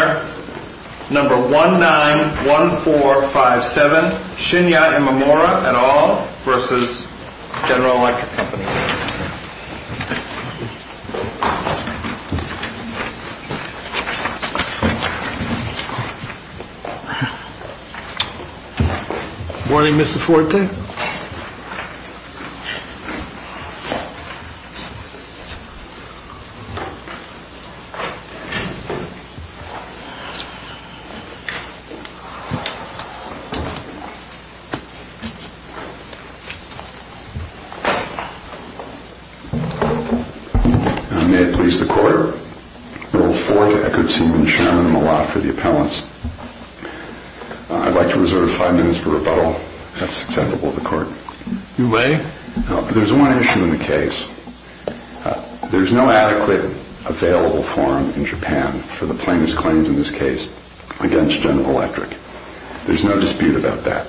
Number 191457 Shinya Imamura et al. v. General Electric Company Morning Mr. Forte May it please the Court, Rule 4 to Eckertsen and Chairman Malott for the appellants. I'd like to reserve five minutes for rebuttal. That's acceptable to the Court. You may. There's one issue in the case. There's no adequate available form in Japan for the plaintiff's claims in this case against General Electric. There's no dispute about that.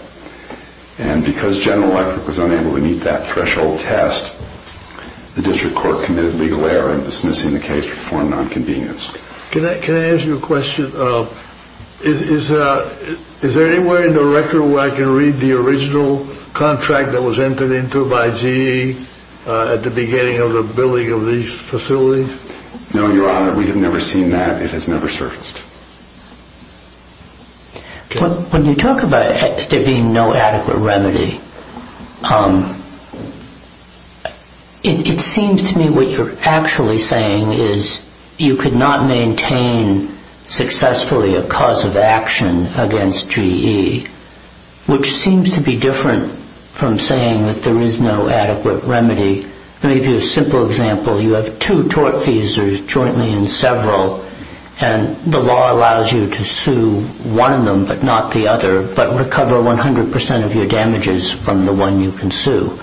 And because General Electric was unable to meet that threshold test, the District Court committed legal error in dismissing the case for foreign non-convenience. Can I ask you a question? Is there anywhere in the record where I can read the original contract that was entered into by GE at the beginning of the building of these facilities? No, Your Honor. We have never seen that. It has never surfaced. When you talk about there being no adequate remedy, it seems to me what you're actually saying is you could not maintain successfully a cause of action against GE, which seems to be different from saying that there is no adequate remedy. Let me give you a simple example. You have two tortfeasors jointly in several, and the law allows you to sue one of them but not the other, but recover 100 percent of your damages from the one you can sue.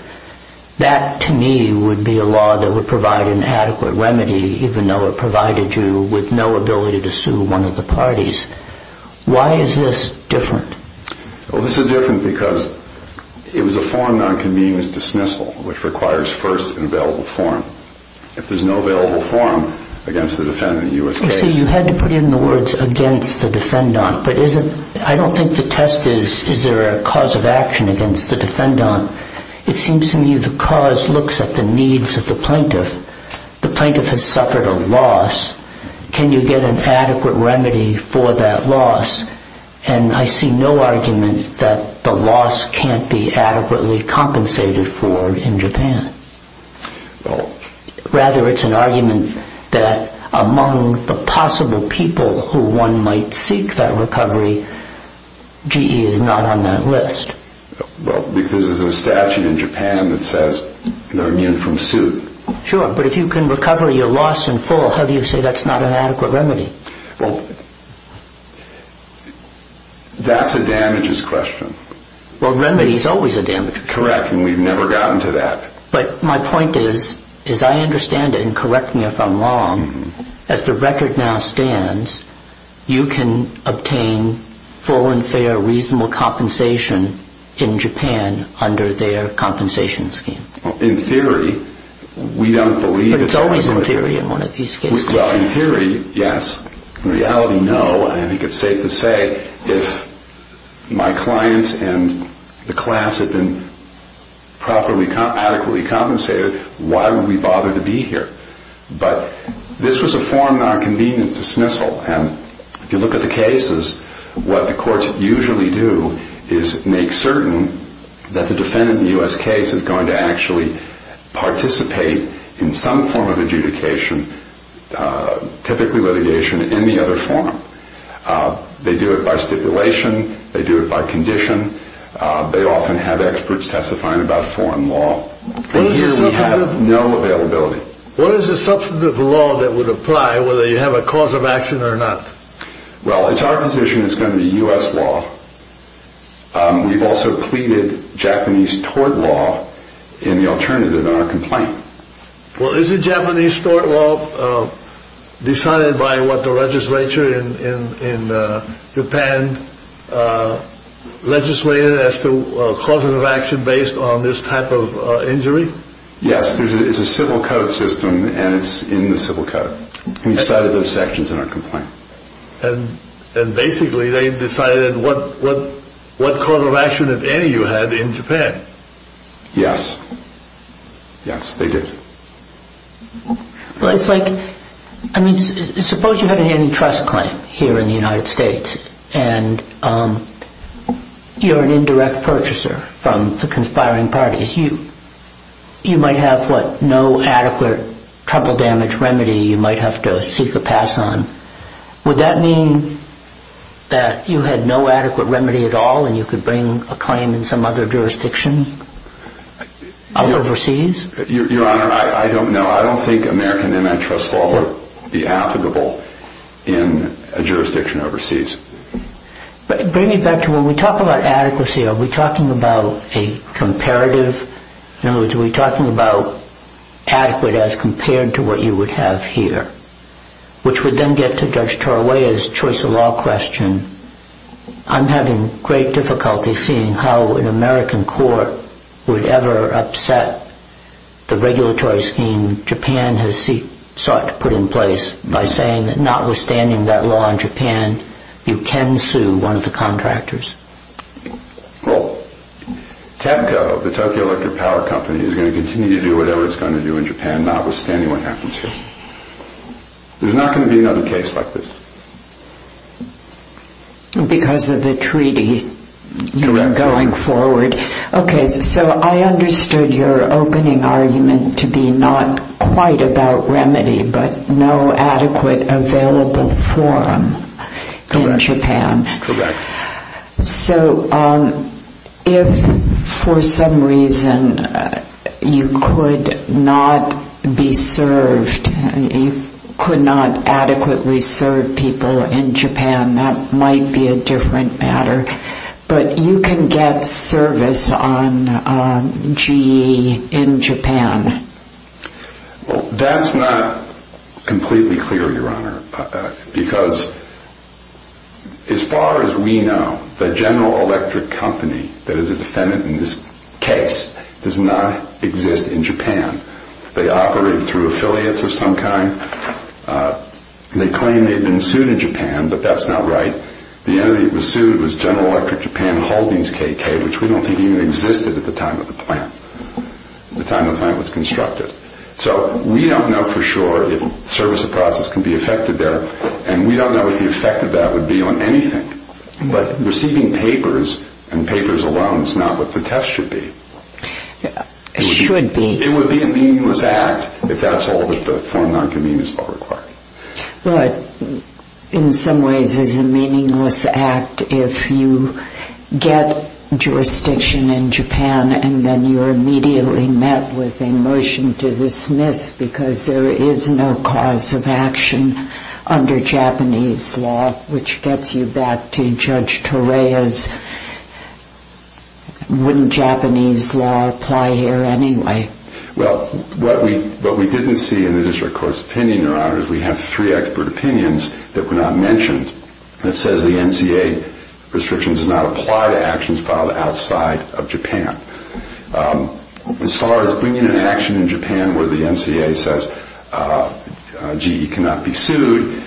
That, to me, would be a law that would provide an adequate remedy, even though it provided you with no ability to sue one of the parties. Why is this different? This is different because it was a foreign non-convenience dismissal, which requires first an available form. If there's no available form against the defendant in a U.S. case... You see, you had to put in the words, against the defendant, but I don't think the test is, is there a cause of action against the defendant. It seems to me the cause looks at the needs of the plaintiff. The plaintiff has suffered a loss. Can you get an adequate remedy for that loss? And I see no argument that the loss can't be adequately compensated for in Japan. Rather, it's an argument that among the possible people who one might seek that recovery, GE is not on that list. Well, because there's a statute in Japan that says they're immune from suit. Sure, but if you can recover your loss in full, how do you say that's not an adequate remedy? Well, that's a damages question. Well, remedy is always a damages question. Correct, and we've never gotten to that. But my point is, as I understand it, and correct me if I'm wrong, as the record now stands, you can obtain full and fair, reasonable compensation in Japan under their compensation scheme. In theory, we don't believe... But it's always in theory in one of these cases. Well, in theory, yes. In reality, no. I think it's safe to say if my clients and the class had been adequately compensated, why would we bother to be here? But this was a form of convenience dismissal, and if you look at the cases, what the courts usually do is make certain that the defendant in the U.S. case is going to actually participate in some form of adjudication, typically litigation, in the other form. They do it by stipulation. They do it by condition. They often have experts testifying about foreign law. And here we have no availability. What is the substantive law that would apply, whether you have a cause of action or not? Well, it's our position it's going to be U.S. law. We've also pleaded Japanese tort law in the alternative in our complaint. Well, is the Japanese tort law decided by what the legislature in Japan legislated as the cause of action based on this type of injury? Yes. It's a civil code system, and it's in the civil code. We decided those sections in our complaint. And basically, they decided what cause of action, if any, you had in Japan. Yes. Yes, they did. Well, it's like, I mean, suppose you have an antitrust claim here in the United States, and you're an indirect purchaser from the conspiring parties. You might have, what, no adequate trouble damage remedy you might have to seek a pass on. Would that mean that you had no adequate remedy at all, and you could bring a claim in some other jurisdiction overseas? Your Honor, I don't know. I don't think American antitrust law would be applicable in a jurisdiction overseas. But bring me back to when we talk about adequacy, are we talking about a comparative? In other words, are we talking about adequate as compared to what you would have here? Which would then get to Judge Tarawaya's choice of law question. I'm having great difficulty seeing how an American court would ever upset the regulatory scheme Japan has sought to put in place by saying that notwithstanding that law in Japan, you can sue one of the contractors. Well, TEPCO, the Tokyo Electric Power Company, is going to continue to do whatever it's going to do in Japan, notwithstanding what happens here. There's not going to be another case like this. Because of the treaty going forward. Correct. Okay, so I understood your opening argument to be not quite about remedy, but no adequate available forum in Japan. Correct. So if for some reason you could not be served, you could not adequately serve people in Japan, that might be a different matter. But you can get service on GE in Japan. Well, that's not completely clear, Your Honor, because as far as we know, the General Electric Company that is a defendant in this case does not exist in Japan. They operate through affiliates of some kind. They claim they've been sued in Japan, but that's not right. The entity that was sued was General Electric Japan Holdings KK, which we don't think even existed at the time of the plant. The time the plant was constructed. So we don't know for sure if service of process can be affected there, and we don't know what the effect of that would be on anything. But receiving papers and papers alone is not what the test should be. It should be. It would be a meaningless act if that's all that the Foreign Non-Communist Law requires. But in some ways it's a meaningless act if you get jurisdiction in Japan and then you're immediately met with a motion to dismiss because there is no cause of action under Japanese law, which gets you back to Judge Torea's, wouldn't Japanese law apply here anyway? Well, what we didn't see in the district court's opinion, Your Honor, is we have three expert opinions that were not mentioned that says the NCA restrictions do not apply to actions filed outside of Japan. As far as bringing an action in Japan where the NCA says GE cannot be sued,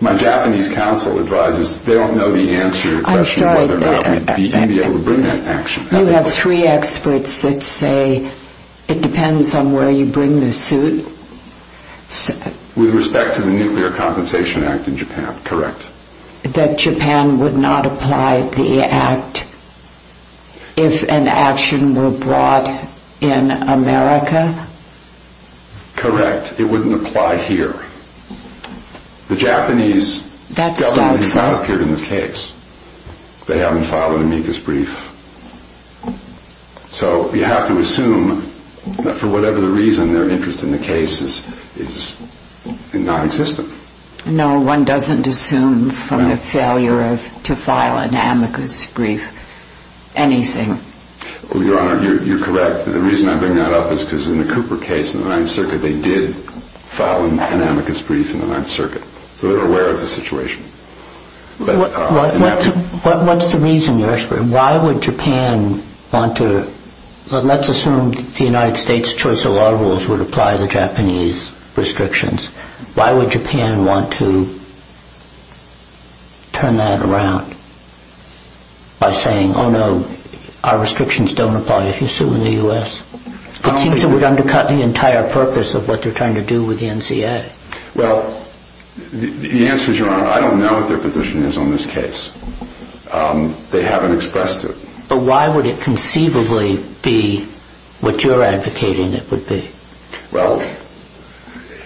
my Japanese counsel advises they don't know the answer to the question of whether or not we'd be able to bring that action. You have three experts that say it depends on where you bring the suit? With respect to the Nuclear Compensation Act in Japan, correct. That Japan would not apply the act if an action were brought in America? Correct. It wouldn't apply here. The Japanese government has not appeared in this case. They haven't filed an amicus brief. So you have to assume that for whatever reason their interest in the case is non-existent. No, one doesn't assume from the failure to file an amicus brief anything. Your Honor, you're correct. The reason I bring that up is because in the Cooper case in the Ninth Circuit they did file an amicus brief in the Ninth Circuit. So they're aware of the situation. What's the reason you're asking? Let's assume the United States choice of law rules would apply the Japanese restrictions. Why would Japan want to turn that around by saying, oh no, our restrictions don't apply if you sue in the U.S.? It seems it would undercut the entire purpose of what they're trying to do with the NCA. Well, the answer is, Your Honor, I don't know what their position is on this case. They haven't expressed it. But why would it conceivably be what you're advocating it would be? Well,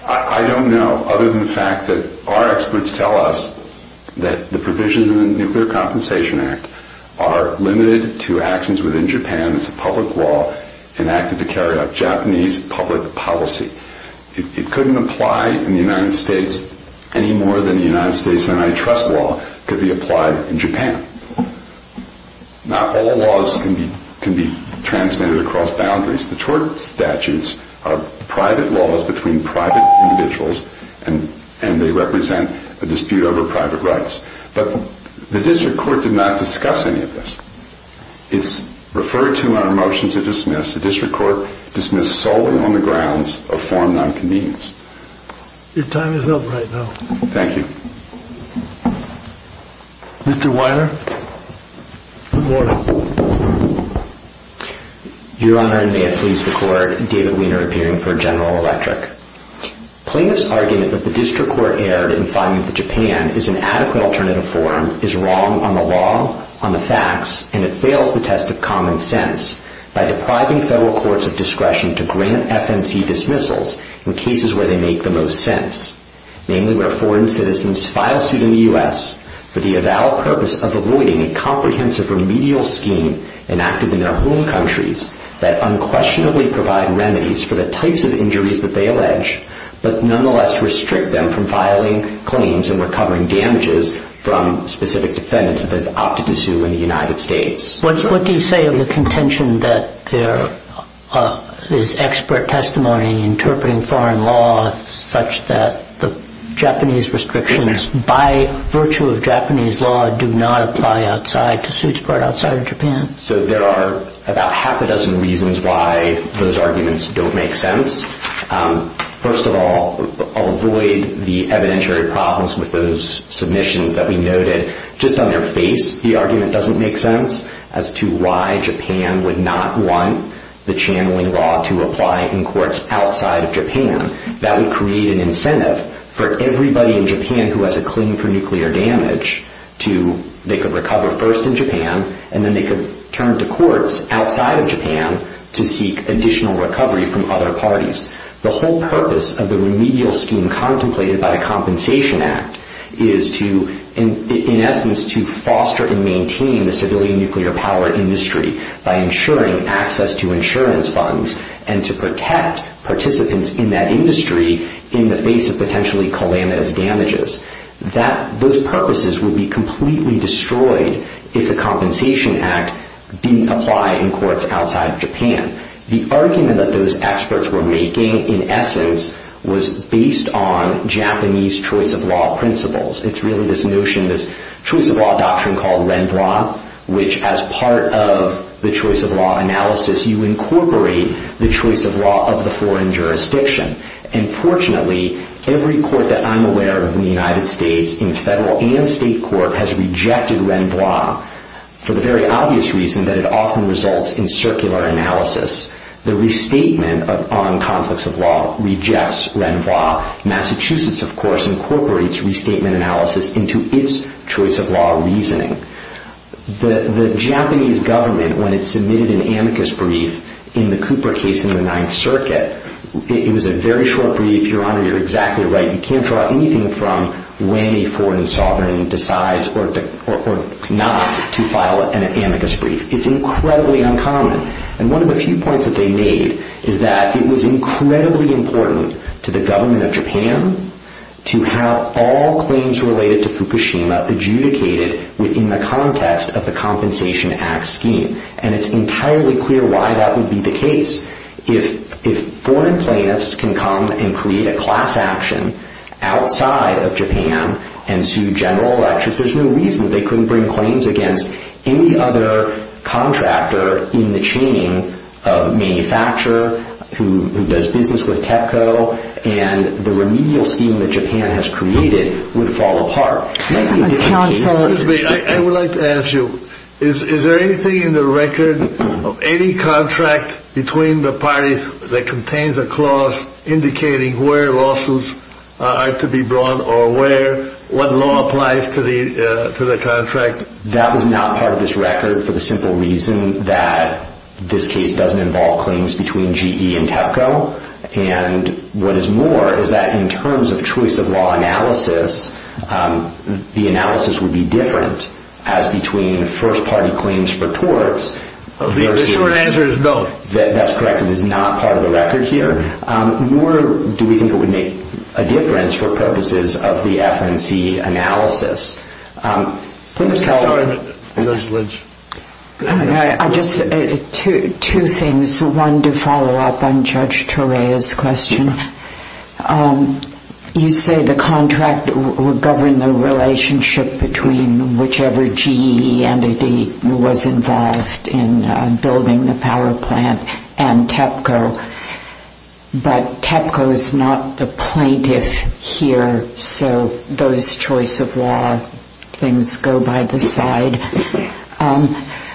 I don't know other than the fact that our experts tell us that the provisions of the Nuclear Compensation Act are limited to actions within Japan. It's a public law enacted to carry out Japanese public policy. It couldn't apply in the United States any more than the United States antitrust law could be applied in Japan. Not all laws can be transmitted across boundaries. The tort statutes are private laws between private individuals, and they represent a dispute over private rights. But the district court did not discuss any of this. It's referred to in our motion to dismiss. The district court dismissed solely on the grounds of forum nonconvenience. Your time is up right now. Thank you. Mr. Weiner. Good morning. Your Honor, and may it please the Court, David Weiner, appearing for General Electric. Plaintiff's argument that the district court erred in finding that Japan is an adequate alternative forum is wrong on the law, on the facts, and it fails the test of common sense by depriving federal courts of discretion to grant FNC dismissals in cases where they make the most sense, namely where foreign citizens file suit in the U.S. for the avowed purpose of avoiding a comprehensive remedial scheme enacted in their home countries that unquestionably provide remedies for the types of injuries that they allege, but nonetheless restrict them from filing claims and recovering damages from specific defendants that they've opted to sue in the United States. What do you say of the contention that there is expert testimony interpreting foreign law such that the Japanese restrictions, by virtue of Japanese law, do not apply outside to suits brought outside of Japan? So there are about half a dozen reasons why those arguments don't make sense. First of all, I'll avoid the evidentiary problems with those submissions that we noted. Just on their face, the argument doesn't make sense as to why Japan would not want the channeling law to apply in courts outside of Japan. That would create an incentive for everybody in Japan who has a claim for nuclear damage to, they could recover first in Japan and then they could turn to courts outside of Japan to seek additional recovery from other parties. The whole purpose of the remedial scheme contemplated by the Compensation Act is to, in essence, to foster and maintain the civilian nuclear power industry by ensuring access to insurance funds and to protect participants in that industry in the face of potentially calamitous damages. Those purposes would be completely destroyed if the Compensation Act didn't apply in courts outside of Japan. The argument that those experts were making, in essence, was based on Japanese choice of law principles. It's really this notion, this choice of law doctrine called RENVOI, which as part of the choice of law analysis, you incorporate the choice of law of the foreign jurisdiction. And fortunately, every court that I'm aware of in the United States, in federal and state court, has rejected RENVOI for the very obvious reason that it often results in circular analysis. The restatement on conflicts of law rejects RENVOI. Massachusetts, of course, incorporates restatement analysis into its choice of law reasoning. The Japanese government, when it submitted an amicus brief in the Cooper case in the Ninth Circuit, it was a very short brief. Your Honor, you're exactly right. You can't draw anything from when a foreign sovereign decides or not to file an amicus brief. It's incredibly uncommon. And one of the few points that they made is that it was incredibly important to the government of Japan to have all claims related to Fukushima adjudicated within the context of the Compensation Act scheme. And it's entirely clear why that would be the case. If foreign plaintiffs can come and create a class action outside of Japan and sue General Electric, there's no reason they couldn't bring claims against any other contractor in the chain of manufacturer who does business with TEPCO, and the remedial scheme that Japan has created would fall apart. Excuse me. I would like to ask you, is there anything in the record of any contract between the parties that contains a clause indicating where lawsuits are to be brought or what law applies to the contract? That was not part of this record for the simple reason that this case doesn't involve claims between GE and TEPCO. And what is more is that in terms of choice of law analysis, the analysis would be different as between first-party claims for torts versus... The short answer is no. That's correct. It is not part of the record here. Nor do we think it would make a difference for purposes of the FNC analysis. Ms. Kellerman. Ms. Lynch. Two things. One, to follow up on Judge Torea's question. You say the contract would govern the relationship between whichever GE entity was involved in building the power plant and TEPCO, but TEPCO is not the plaintiff here, so those choice of law things go by the side.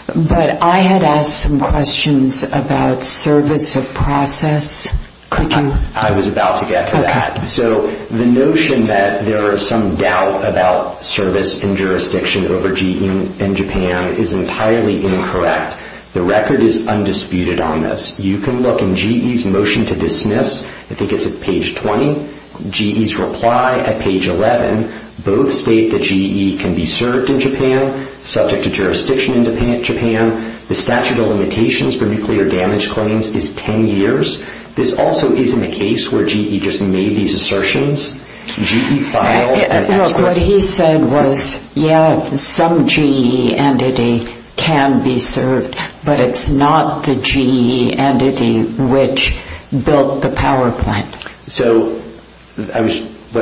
But I had asked some questions about service of process. Could you... I was about to get to that. Okay. So the notion that there is some doubt about service and jurisdiction over GE in Japan is entirely incorrect. The record is undisputed on this. You can look in GE's motion to dismiss. I think it's at page 20. GE's reply at page 11. Both state that GE can be served in Japan, subject to jurisdiction in Japan. The statute of limitations for nuclear damage claims is 10 years. This also isn't a case where GE just made these assertions. GE filed an expert... Look, what he said was, yeah, some GE entity can be served, but it's not the GE entity which built the power plant. So what I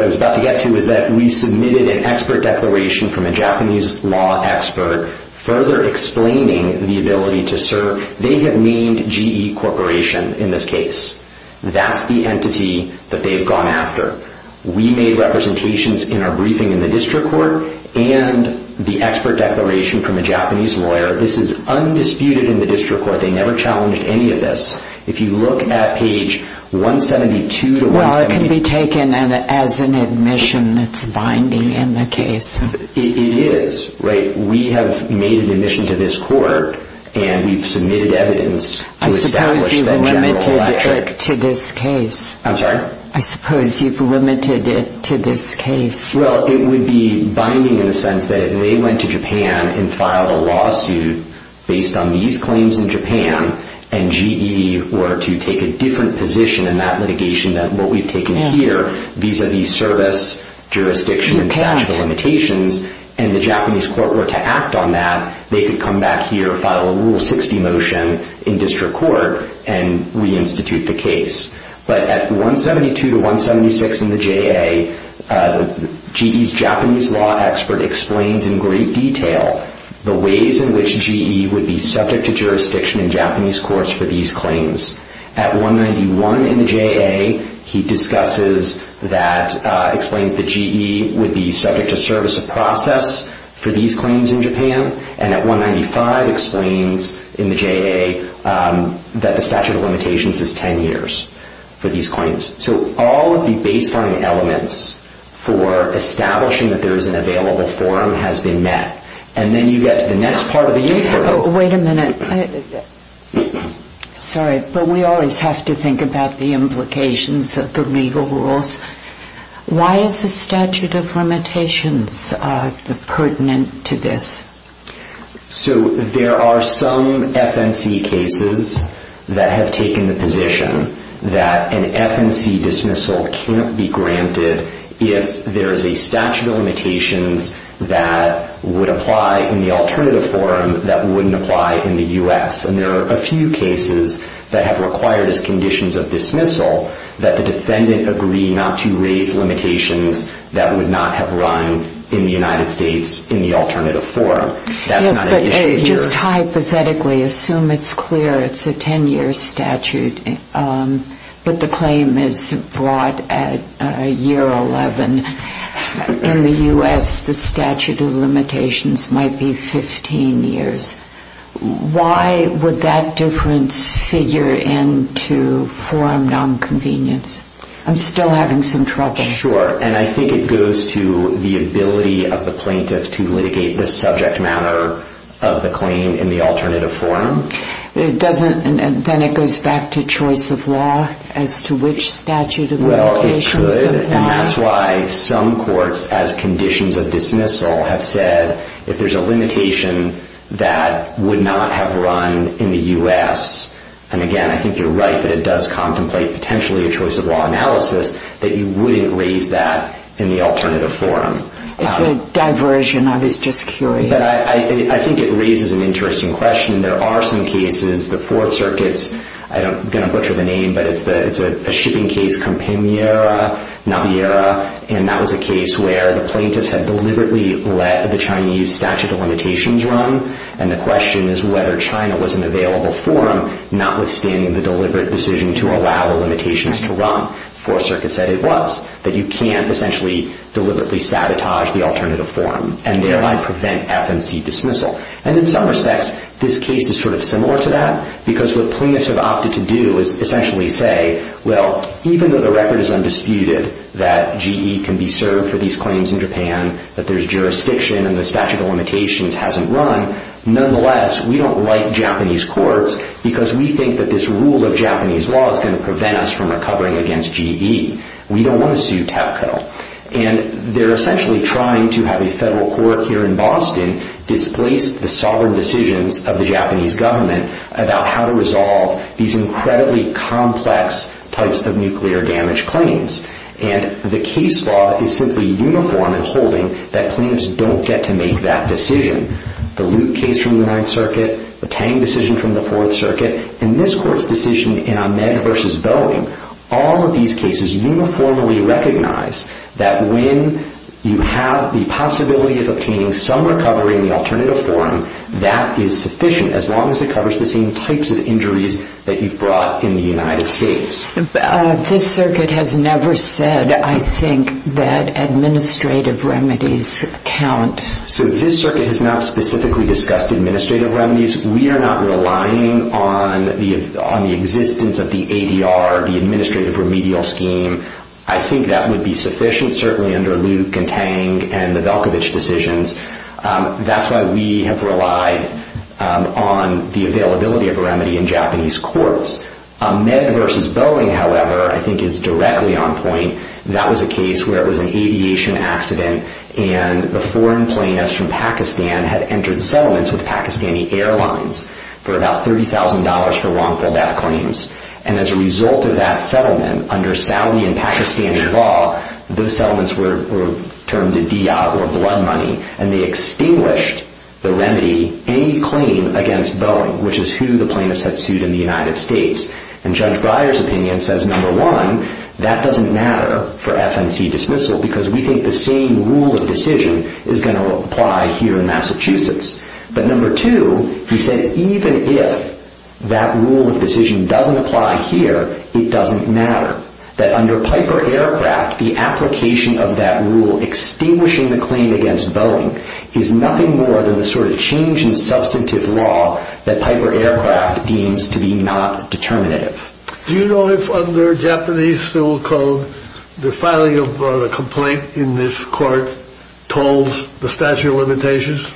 was about to get to is that we submitted an expert declaration from a Japanese law expert further explaining the ability to serve. They have named GE Corporation in this case. That's the entity that they've gone after. We made representations in our briefing in the district court and the expert declaration from a Japanese lawyer. This is undisputed in the district court. They never challenged any of this. If you look at page 172 to 178... Well, it can be taken as an admission that's binding in the case. It is, right? If we have made an admission to this court and we've submitted evidence... I suppose you've limited it to this case. I'm sorry? I suppose you've limited it to this case. Well, it would be binding in the sense that they went to Japan and filed a lawsuit based on these claims in Japan, and GE were to take a different position in that litigation than what we've taken here vis-à-vis service, jurisdiction, and statute of limitations, and the Japanese court were to act on that, they could come back here, file a Rule 60 motion in district court, and reinstitute the case. But at 172 to 176 in the JA, GE's Japanese law expert explains in great detail the ways in which GE would be subject to jurisdiction in Japanese courts for these claims. At 191 in the JA, he discusses that... for these claims in Japan, and at 195 explains in the JA that the statute of limitations is 10 years for these claims. So all of the baseline elements for establishing that there is an available form has been met. And then you get to the next part of the inquiry. Wait a minute. Sorry, but we always have to think about the implications of the legal rules. Why is the statute of limitations pertinent to this? So there are some FNC cases that have taken the position that an FNC dismissal cannot be granted if there is a statute of limitations that would apply in the alternative form that wouldn't apply in the U.S. And there are a few cases that have required as conditions of dismissal that the defendant agree not to raise limitations that would not have run in the United States in the alternative form. That's not an issue here. Yes, but just hypothetically, assume it's clear it's a 10-year statute, but the claim is brought at year 11. In the U.S., the statute of limitations might be 15 years. Why would that difference figure into forum nonconvenience? I'm still having some trouble. Sure, and I think it goes to the ability of the plaintiff to litigate the subject matter of the claim in the alternative form. Then it goes back to choice of law as to which statute of limitations applies. Well, it should, and that's why some courts, as conditions of dismissal, have said if there's a limitation that would not have run in the U.S. And, again, I think you're right that it does contemplate potentially a choice of law analysis that you wouldn't raise that in the alternative form. It's a diversion. I was just curious. I think it raises an interesting question. There are some cases, the Fourth Circuit's, I'm going to butcher the name, but it's a shipping case, Campaniera, and that was a case where the plaintiffs had deliberately let the Chinese statute of limitations run, and the question is whether China was an available forum not withstanding the deliberate decision to allow the limitations to run. The Fourth Circuit said it was, that you can't essentially deliberately sabotage the alternative form and thereby prevent FNC dismissal. And in some respects, this case is sort of similar to that because what plaintiffs have opted to do is essentially say, well, even though the record is undisputed that GE can be served for these claims in Japan, that there's jurisdiction and the statute of limitations hasn't run, nonetheless, we don't like Japanese courts because we think that this rule of Japanese law is going to prevent us from recovering against GE. We don't want to sue TEPCO. And they're essentially trying to have a federal court here in Boston displace the sovereign decisions of the Japanese government about how to And the case law is simply uniform in holding that plaintiffs don't get to make that decision. The Luke case from the Ninth Circuit, the Tang decision from the Fourth Circuit, and this court's decision in Ahmed versus Boeing, all of these cases uniformly recognize that when you have the possibility of obtaining some recovery in the alternative form, that is sufficient as long as it covers the same types of injuries that you've brought in the United States. This circuit has never said, I think, that administrative remedies count. So this circuit has not specifically discussed administrative remedies. We are not relying on the existence of the ADR, the administrative remedial scheme. I think that would be sufficient, certainly under Luke and Tang and the Velkovich decisions. That's why we have relied on the availability of a remedy in Japanese courts. Ahmed versus Boeing, however, I think is directly on point. That was a case where it was an aviation accident, and the foreign plaintiffs from Pakistan had entered settlements with Pakistani airlines for about $30,000 for wrongful death claims. And as a result of that settlement, under Saudi and Pakistani law, those settlements were termed a diya, or blood money, and they extinguished the remedy, any claim against Boeing, which is who the plaintiffs had sued in the United States. And Judge Breyer's opinion says, number one, that doesn't matter for FNC dismissal, because we think the same rule of decision is going to apply here in Massachusetts. But number two, he said, even if that rule of decision doesn't apply here, it doesn't matter. That under Piper Aircraft, the application of that rule extinguishing the claim against Boeing is nothing more than the sort of change in substantive law that Piper Aircraft deems to be not determinative. Do you know if, under Japanese civil code, the filing of a complaint in this court tolls the statute of limitations?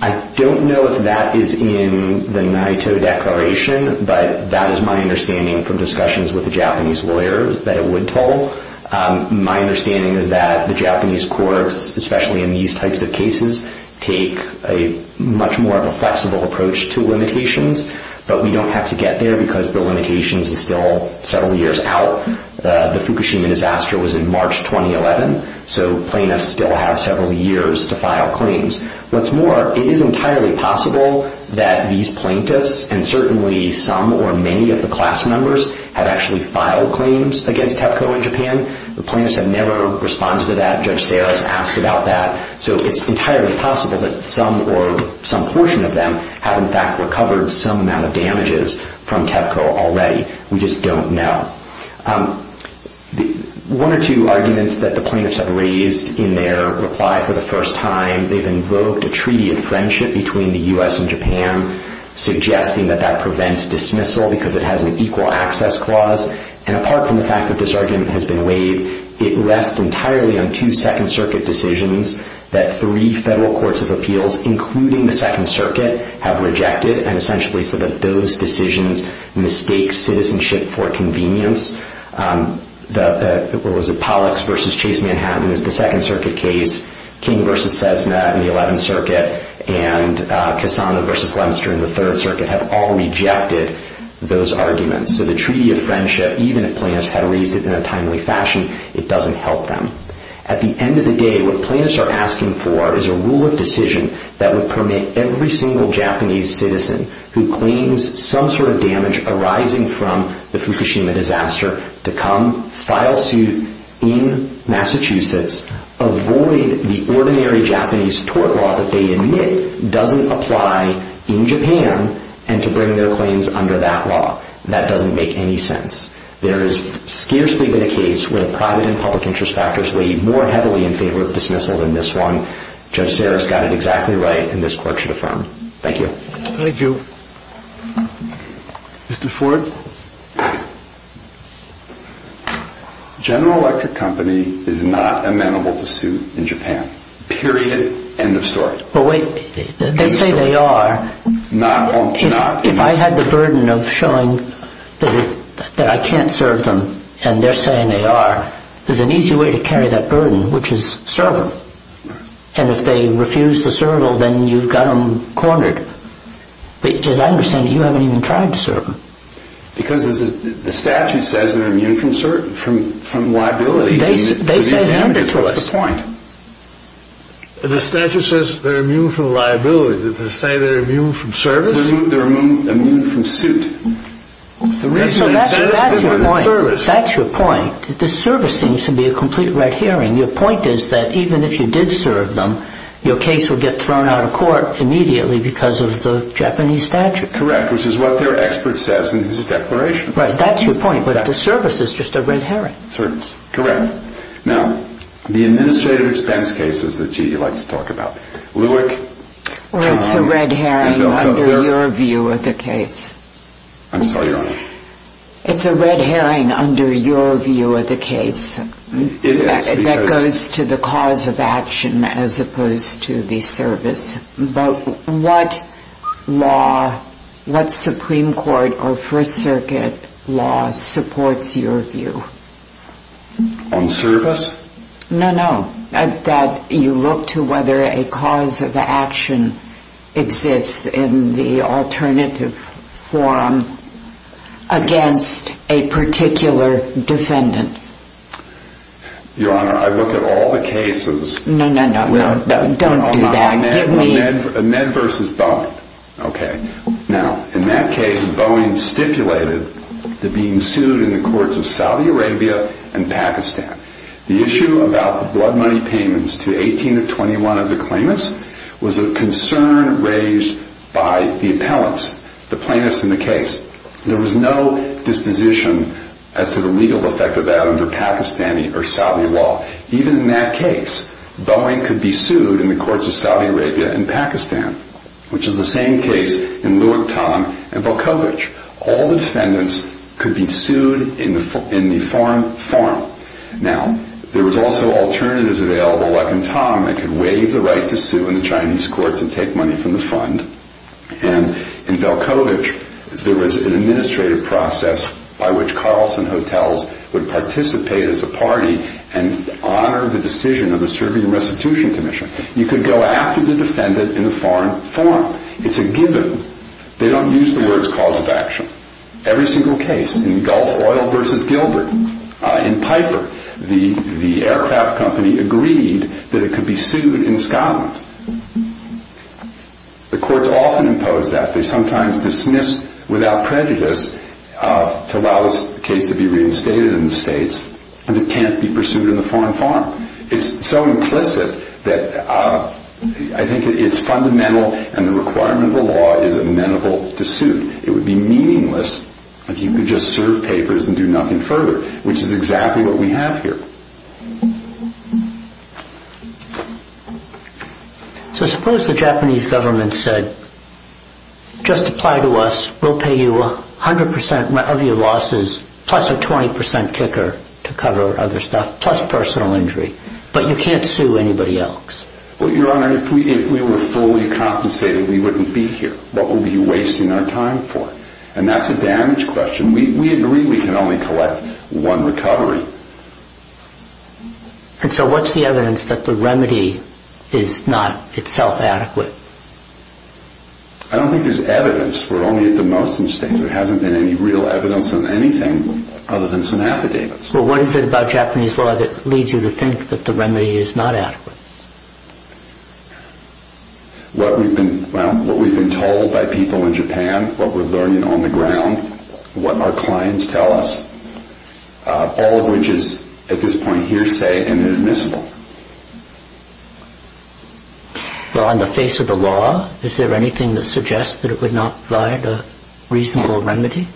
I don't know if that is in the Naito Declaration, but that is my understanding from discussions with the Japanese lawyers, that it would toll. My understanding is that the Japanese courts, especially in these types of cases, have a very careful approach to limitations. But we don't have to get there, because the limitations is still several years out. The Fukushima disaster was in March 2011, so plaintiffs still have several years to file claims. What's more, it is entirely possible that these plaintiffs, and certainly some or many of the class members, have actually filed claims against TEPCO in Japan. The plaintiffs have never responded to that. Judge Sarris asked about that. So it's entirely possible that some or some portion of them have, in fact, recovered some amount of damages from TEPCO already. We just don't know. One or two arguments that the plaintiffs have raised in their reply for the first time, they've invoked a treaty of friendship between the U.S. and Japan, suggesting that that prevents dismissal because it has an equal access clause. It's entirely on two Second Circuit decisions that three federal courts of appeals, including the Second Circuit, have rejected, and essentially said that those decisions mistake citizenship for convenience. What was it? Pollux v. Chase Manhattan is the Second Circuit case. King v. Cessna in the Eleventh Circuit, and Cassano v. Lemster in the Third Circuit have all rejected those arguments. So the treaty of friendship, even if plaintiffs had raised it in a timely fashion, it doesn't help them. At the end of the day, what plaintiffs are asking for is a rule of decision that would permit every single Japanese citizen who claims some sort of damage arising from the Fukushima disaster to come, file suit in Massachusetts, avoid the ordinary Japanese tort law that they admit doesn't apply in Japan, and to bring their claims under that law. That doesn't make any sense. There has scarcely been a case where private and public interest factors weigh more heavily in favor of dismissal than this one. Judge Sarris got it exactly right, and this Court should affirm. Thank you. Thank you. Mr. Ford? General Electric Company is not amenable to suit in Japan, period, end of story. But wait, they say they are. If I had the burden of showing that I can't serve them and they're saying they are, there's an easy way to carry that burden, which is serve them. And if they refuse to serve them, then you've got them cornered. Because I understand you haven't even tried to serve them. Because the statute says they're immune from liability. They say they're immune to us. What's the point? The statute says they're immune from liability. Does it say they're immune from service? They're immune from suit. That's your point. The service seems to be a complete red herring. Your point is that even if you did serve them, your case would get thrown out of court immediately because of the Japanese statute. Correct, which is what their expert says in his declaration. That's your point, but the service is just a red herring. Correct. Now, the administrative expense cases that you like to talk about, Lewick, Tom, Handover. It's a red herring under your view of the case. I'm sorry, Your Honor. It's a red herring under your view of the case. It is. That goes to the cause of action as opposed to the service. But what law, what Supreme Court or First Circuit law supports your view? On service? No, no. That you look to whether a cause of action exists in the alternative form against a particular defendant. Your Honor, I look at all the cases. No, no, no. Don't do that. Give me. Med versus Boeing. Okay. Now, in that case, Boeing stipulated that being sued in the courts of Saudi Arabia and Pakistan. The issue about the blood money payments to 18 of 21 of the claimants was a concern raised by the appellants, the plaintiffs in the case. There was no disposition as to the legal effect of that under Pakistani or Saudi law. Even in that case, Boeing could be sued in the courts of Saudi Arabia and Pakistan, which is the same case in Luak Tam and Velkovic. All the defendants could be sued in the form. Now, there was also alternatives available like in Tam that could waive the right to sue in the Chinese courts and take money from the fund. And in Velkovic, there was an administrative process by which Carlson Hotels would participate as a party and honor the decision of the Serbian Restitution Commission. You could go after the defendant in a foreign forum. It's a given. They don't use the words cause of action. Every single case, in Gulf Oil versus Gilbert, in Piper, the aircraft company agreed that it could be sued in Scotland. The courts often impose that. They sometimes dismiss without prejudice to allow the case to be reinstated in the States, but it can't be pursued in a foreign forum. It's so implicit that I think it's fundamental and the requirement of the law is amenable to suit. It would be meaningless if you could just serve papers and do nothing further, which is exactly what we have here. So suppose the Japanese government said, just apply to us. We'll pay you 100% of your losses plus a 20% kicker to cover other stuff plus personal injury, but you can't sue anybody else. Well, Your Honor, if we were fully compensated, we wouldn't be here. What would we be wasting our time for? And that's a damage question. We agree we can only collect one recovery. And so what's the evidence that the remedy is not itself adequate? I don't think there's evidence, for only at the most instance. There hasn't been any real evidence on anything other than some affidavits. Well, what is it about Japanese law that leads you to think that the remedy is not adequate? What we've been told by people in Japan, what we're learning on the ground, what our clients tell us. All of which is, at this point, hearsay and inadmissible. Well, on the face of the law, is there anything that suggests that it would not provide a reasonable remedy?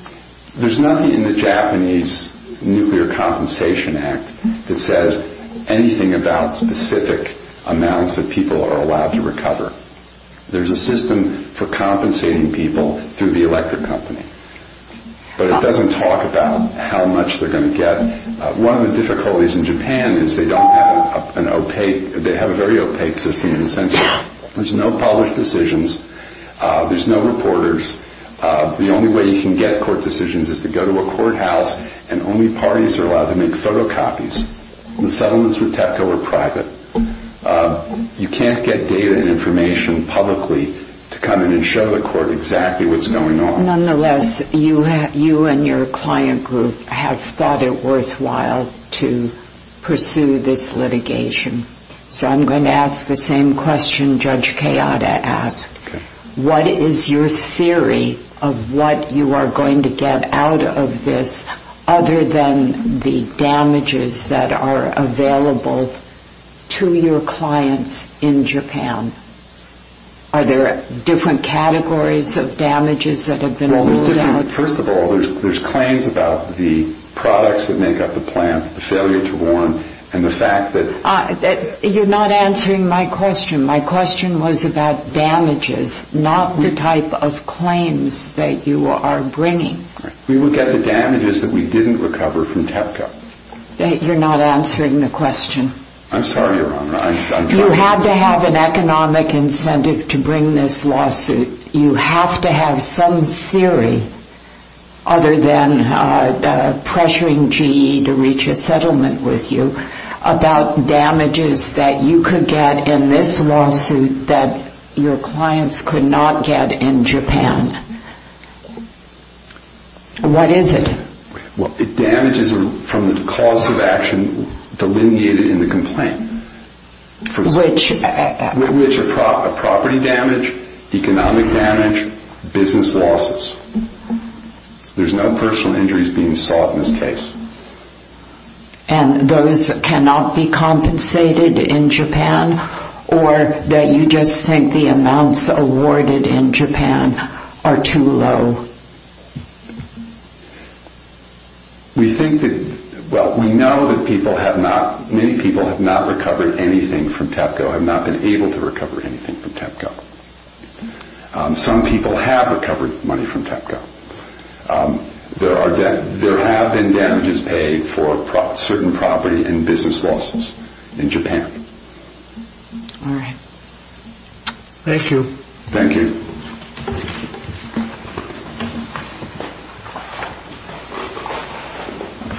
There's nothing in the Japanese Nuclear Compensation Act that says anything about specific amounts that people are allowed to recover. There's a system for compensating people through the electric company. But it doesn't talk about how much they're going to get. One of the difficulties in Japan is they have a very opaque system in the sense that there's no public decisions. There's no reporters. The only way you can get court decisions is to go to a courthouse, and only parties are allowed to make photocopies. The settlements with TEPCO are private. You can't get data and information publicly to come in and show the court exactly what's going on. Nonetheless, you and your client group have thought it worthwhile to pursue this litigation. So I'm going to ask the same question Judge Kayada asked. What is your theory of what you are going to get out of this other than the damages that are available to your clients in Japan? Are there different categories of damages that have been rolled out? Well, first of all, there's claims about the products that make up the plant, the failure to warn, and the fact that... You're not answering my question. My question was about damages, not the type of claims that you are bringing. We will get the damages that we didn't recover from TEPCO. You're not answering the question. I'm sorry, Your Honor. You have to have an economic incentive to bring this lawsuit. You have to have some theory, other than pressuring GE to reach a settlement with you, about damages that you could get in this lawsuit that your clients could not get in Japan. What is it? Damages from the cause of action delineated in the complaint. Which? Which are property damage, economic damage, business losses. There's no personal injuries being sought in this case. And those cannot be compensated in Japan? Or that you just think the amounts awarded in Japan are too low? We think that... Well, we know that people have not... Many people have not recovered anything from TEPCO, have not been able to recover anything from TEPCO. Some people have recovered money from TEPCO. There have been damages paid for certain property and business losses in Japan. All right. Thank you. Thank you.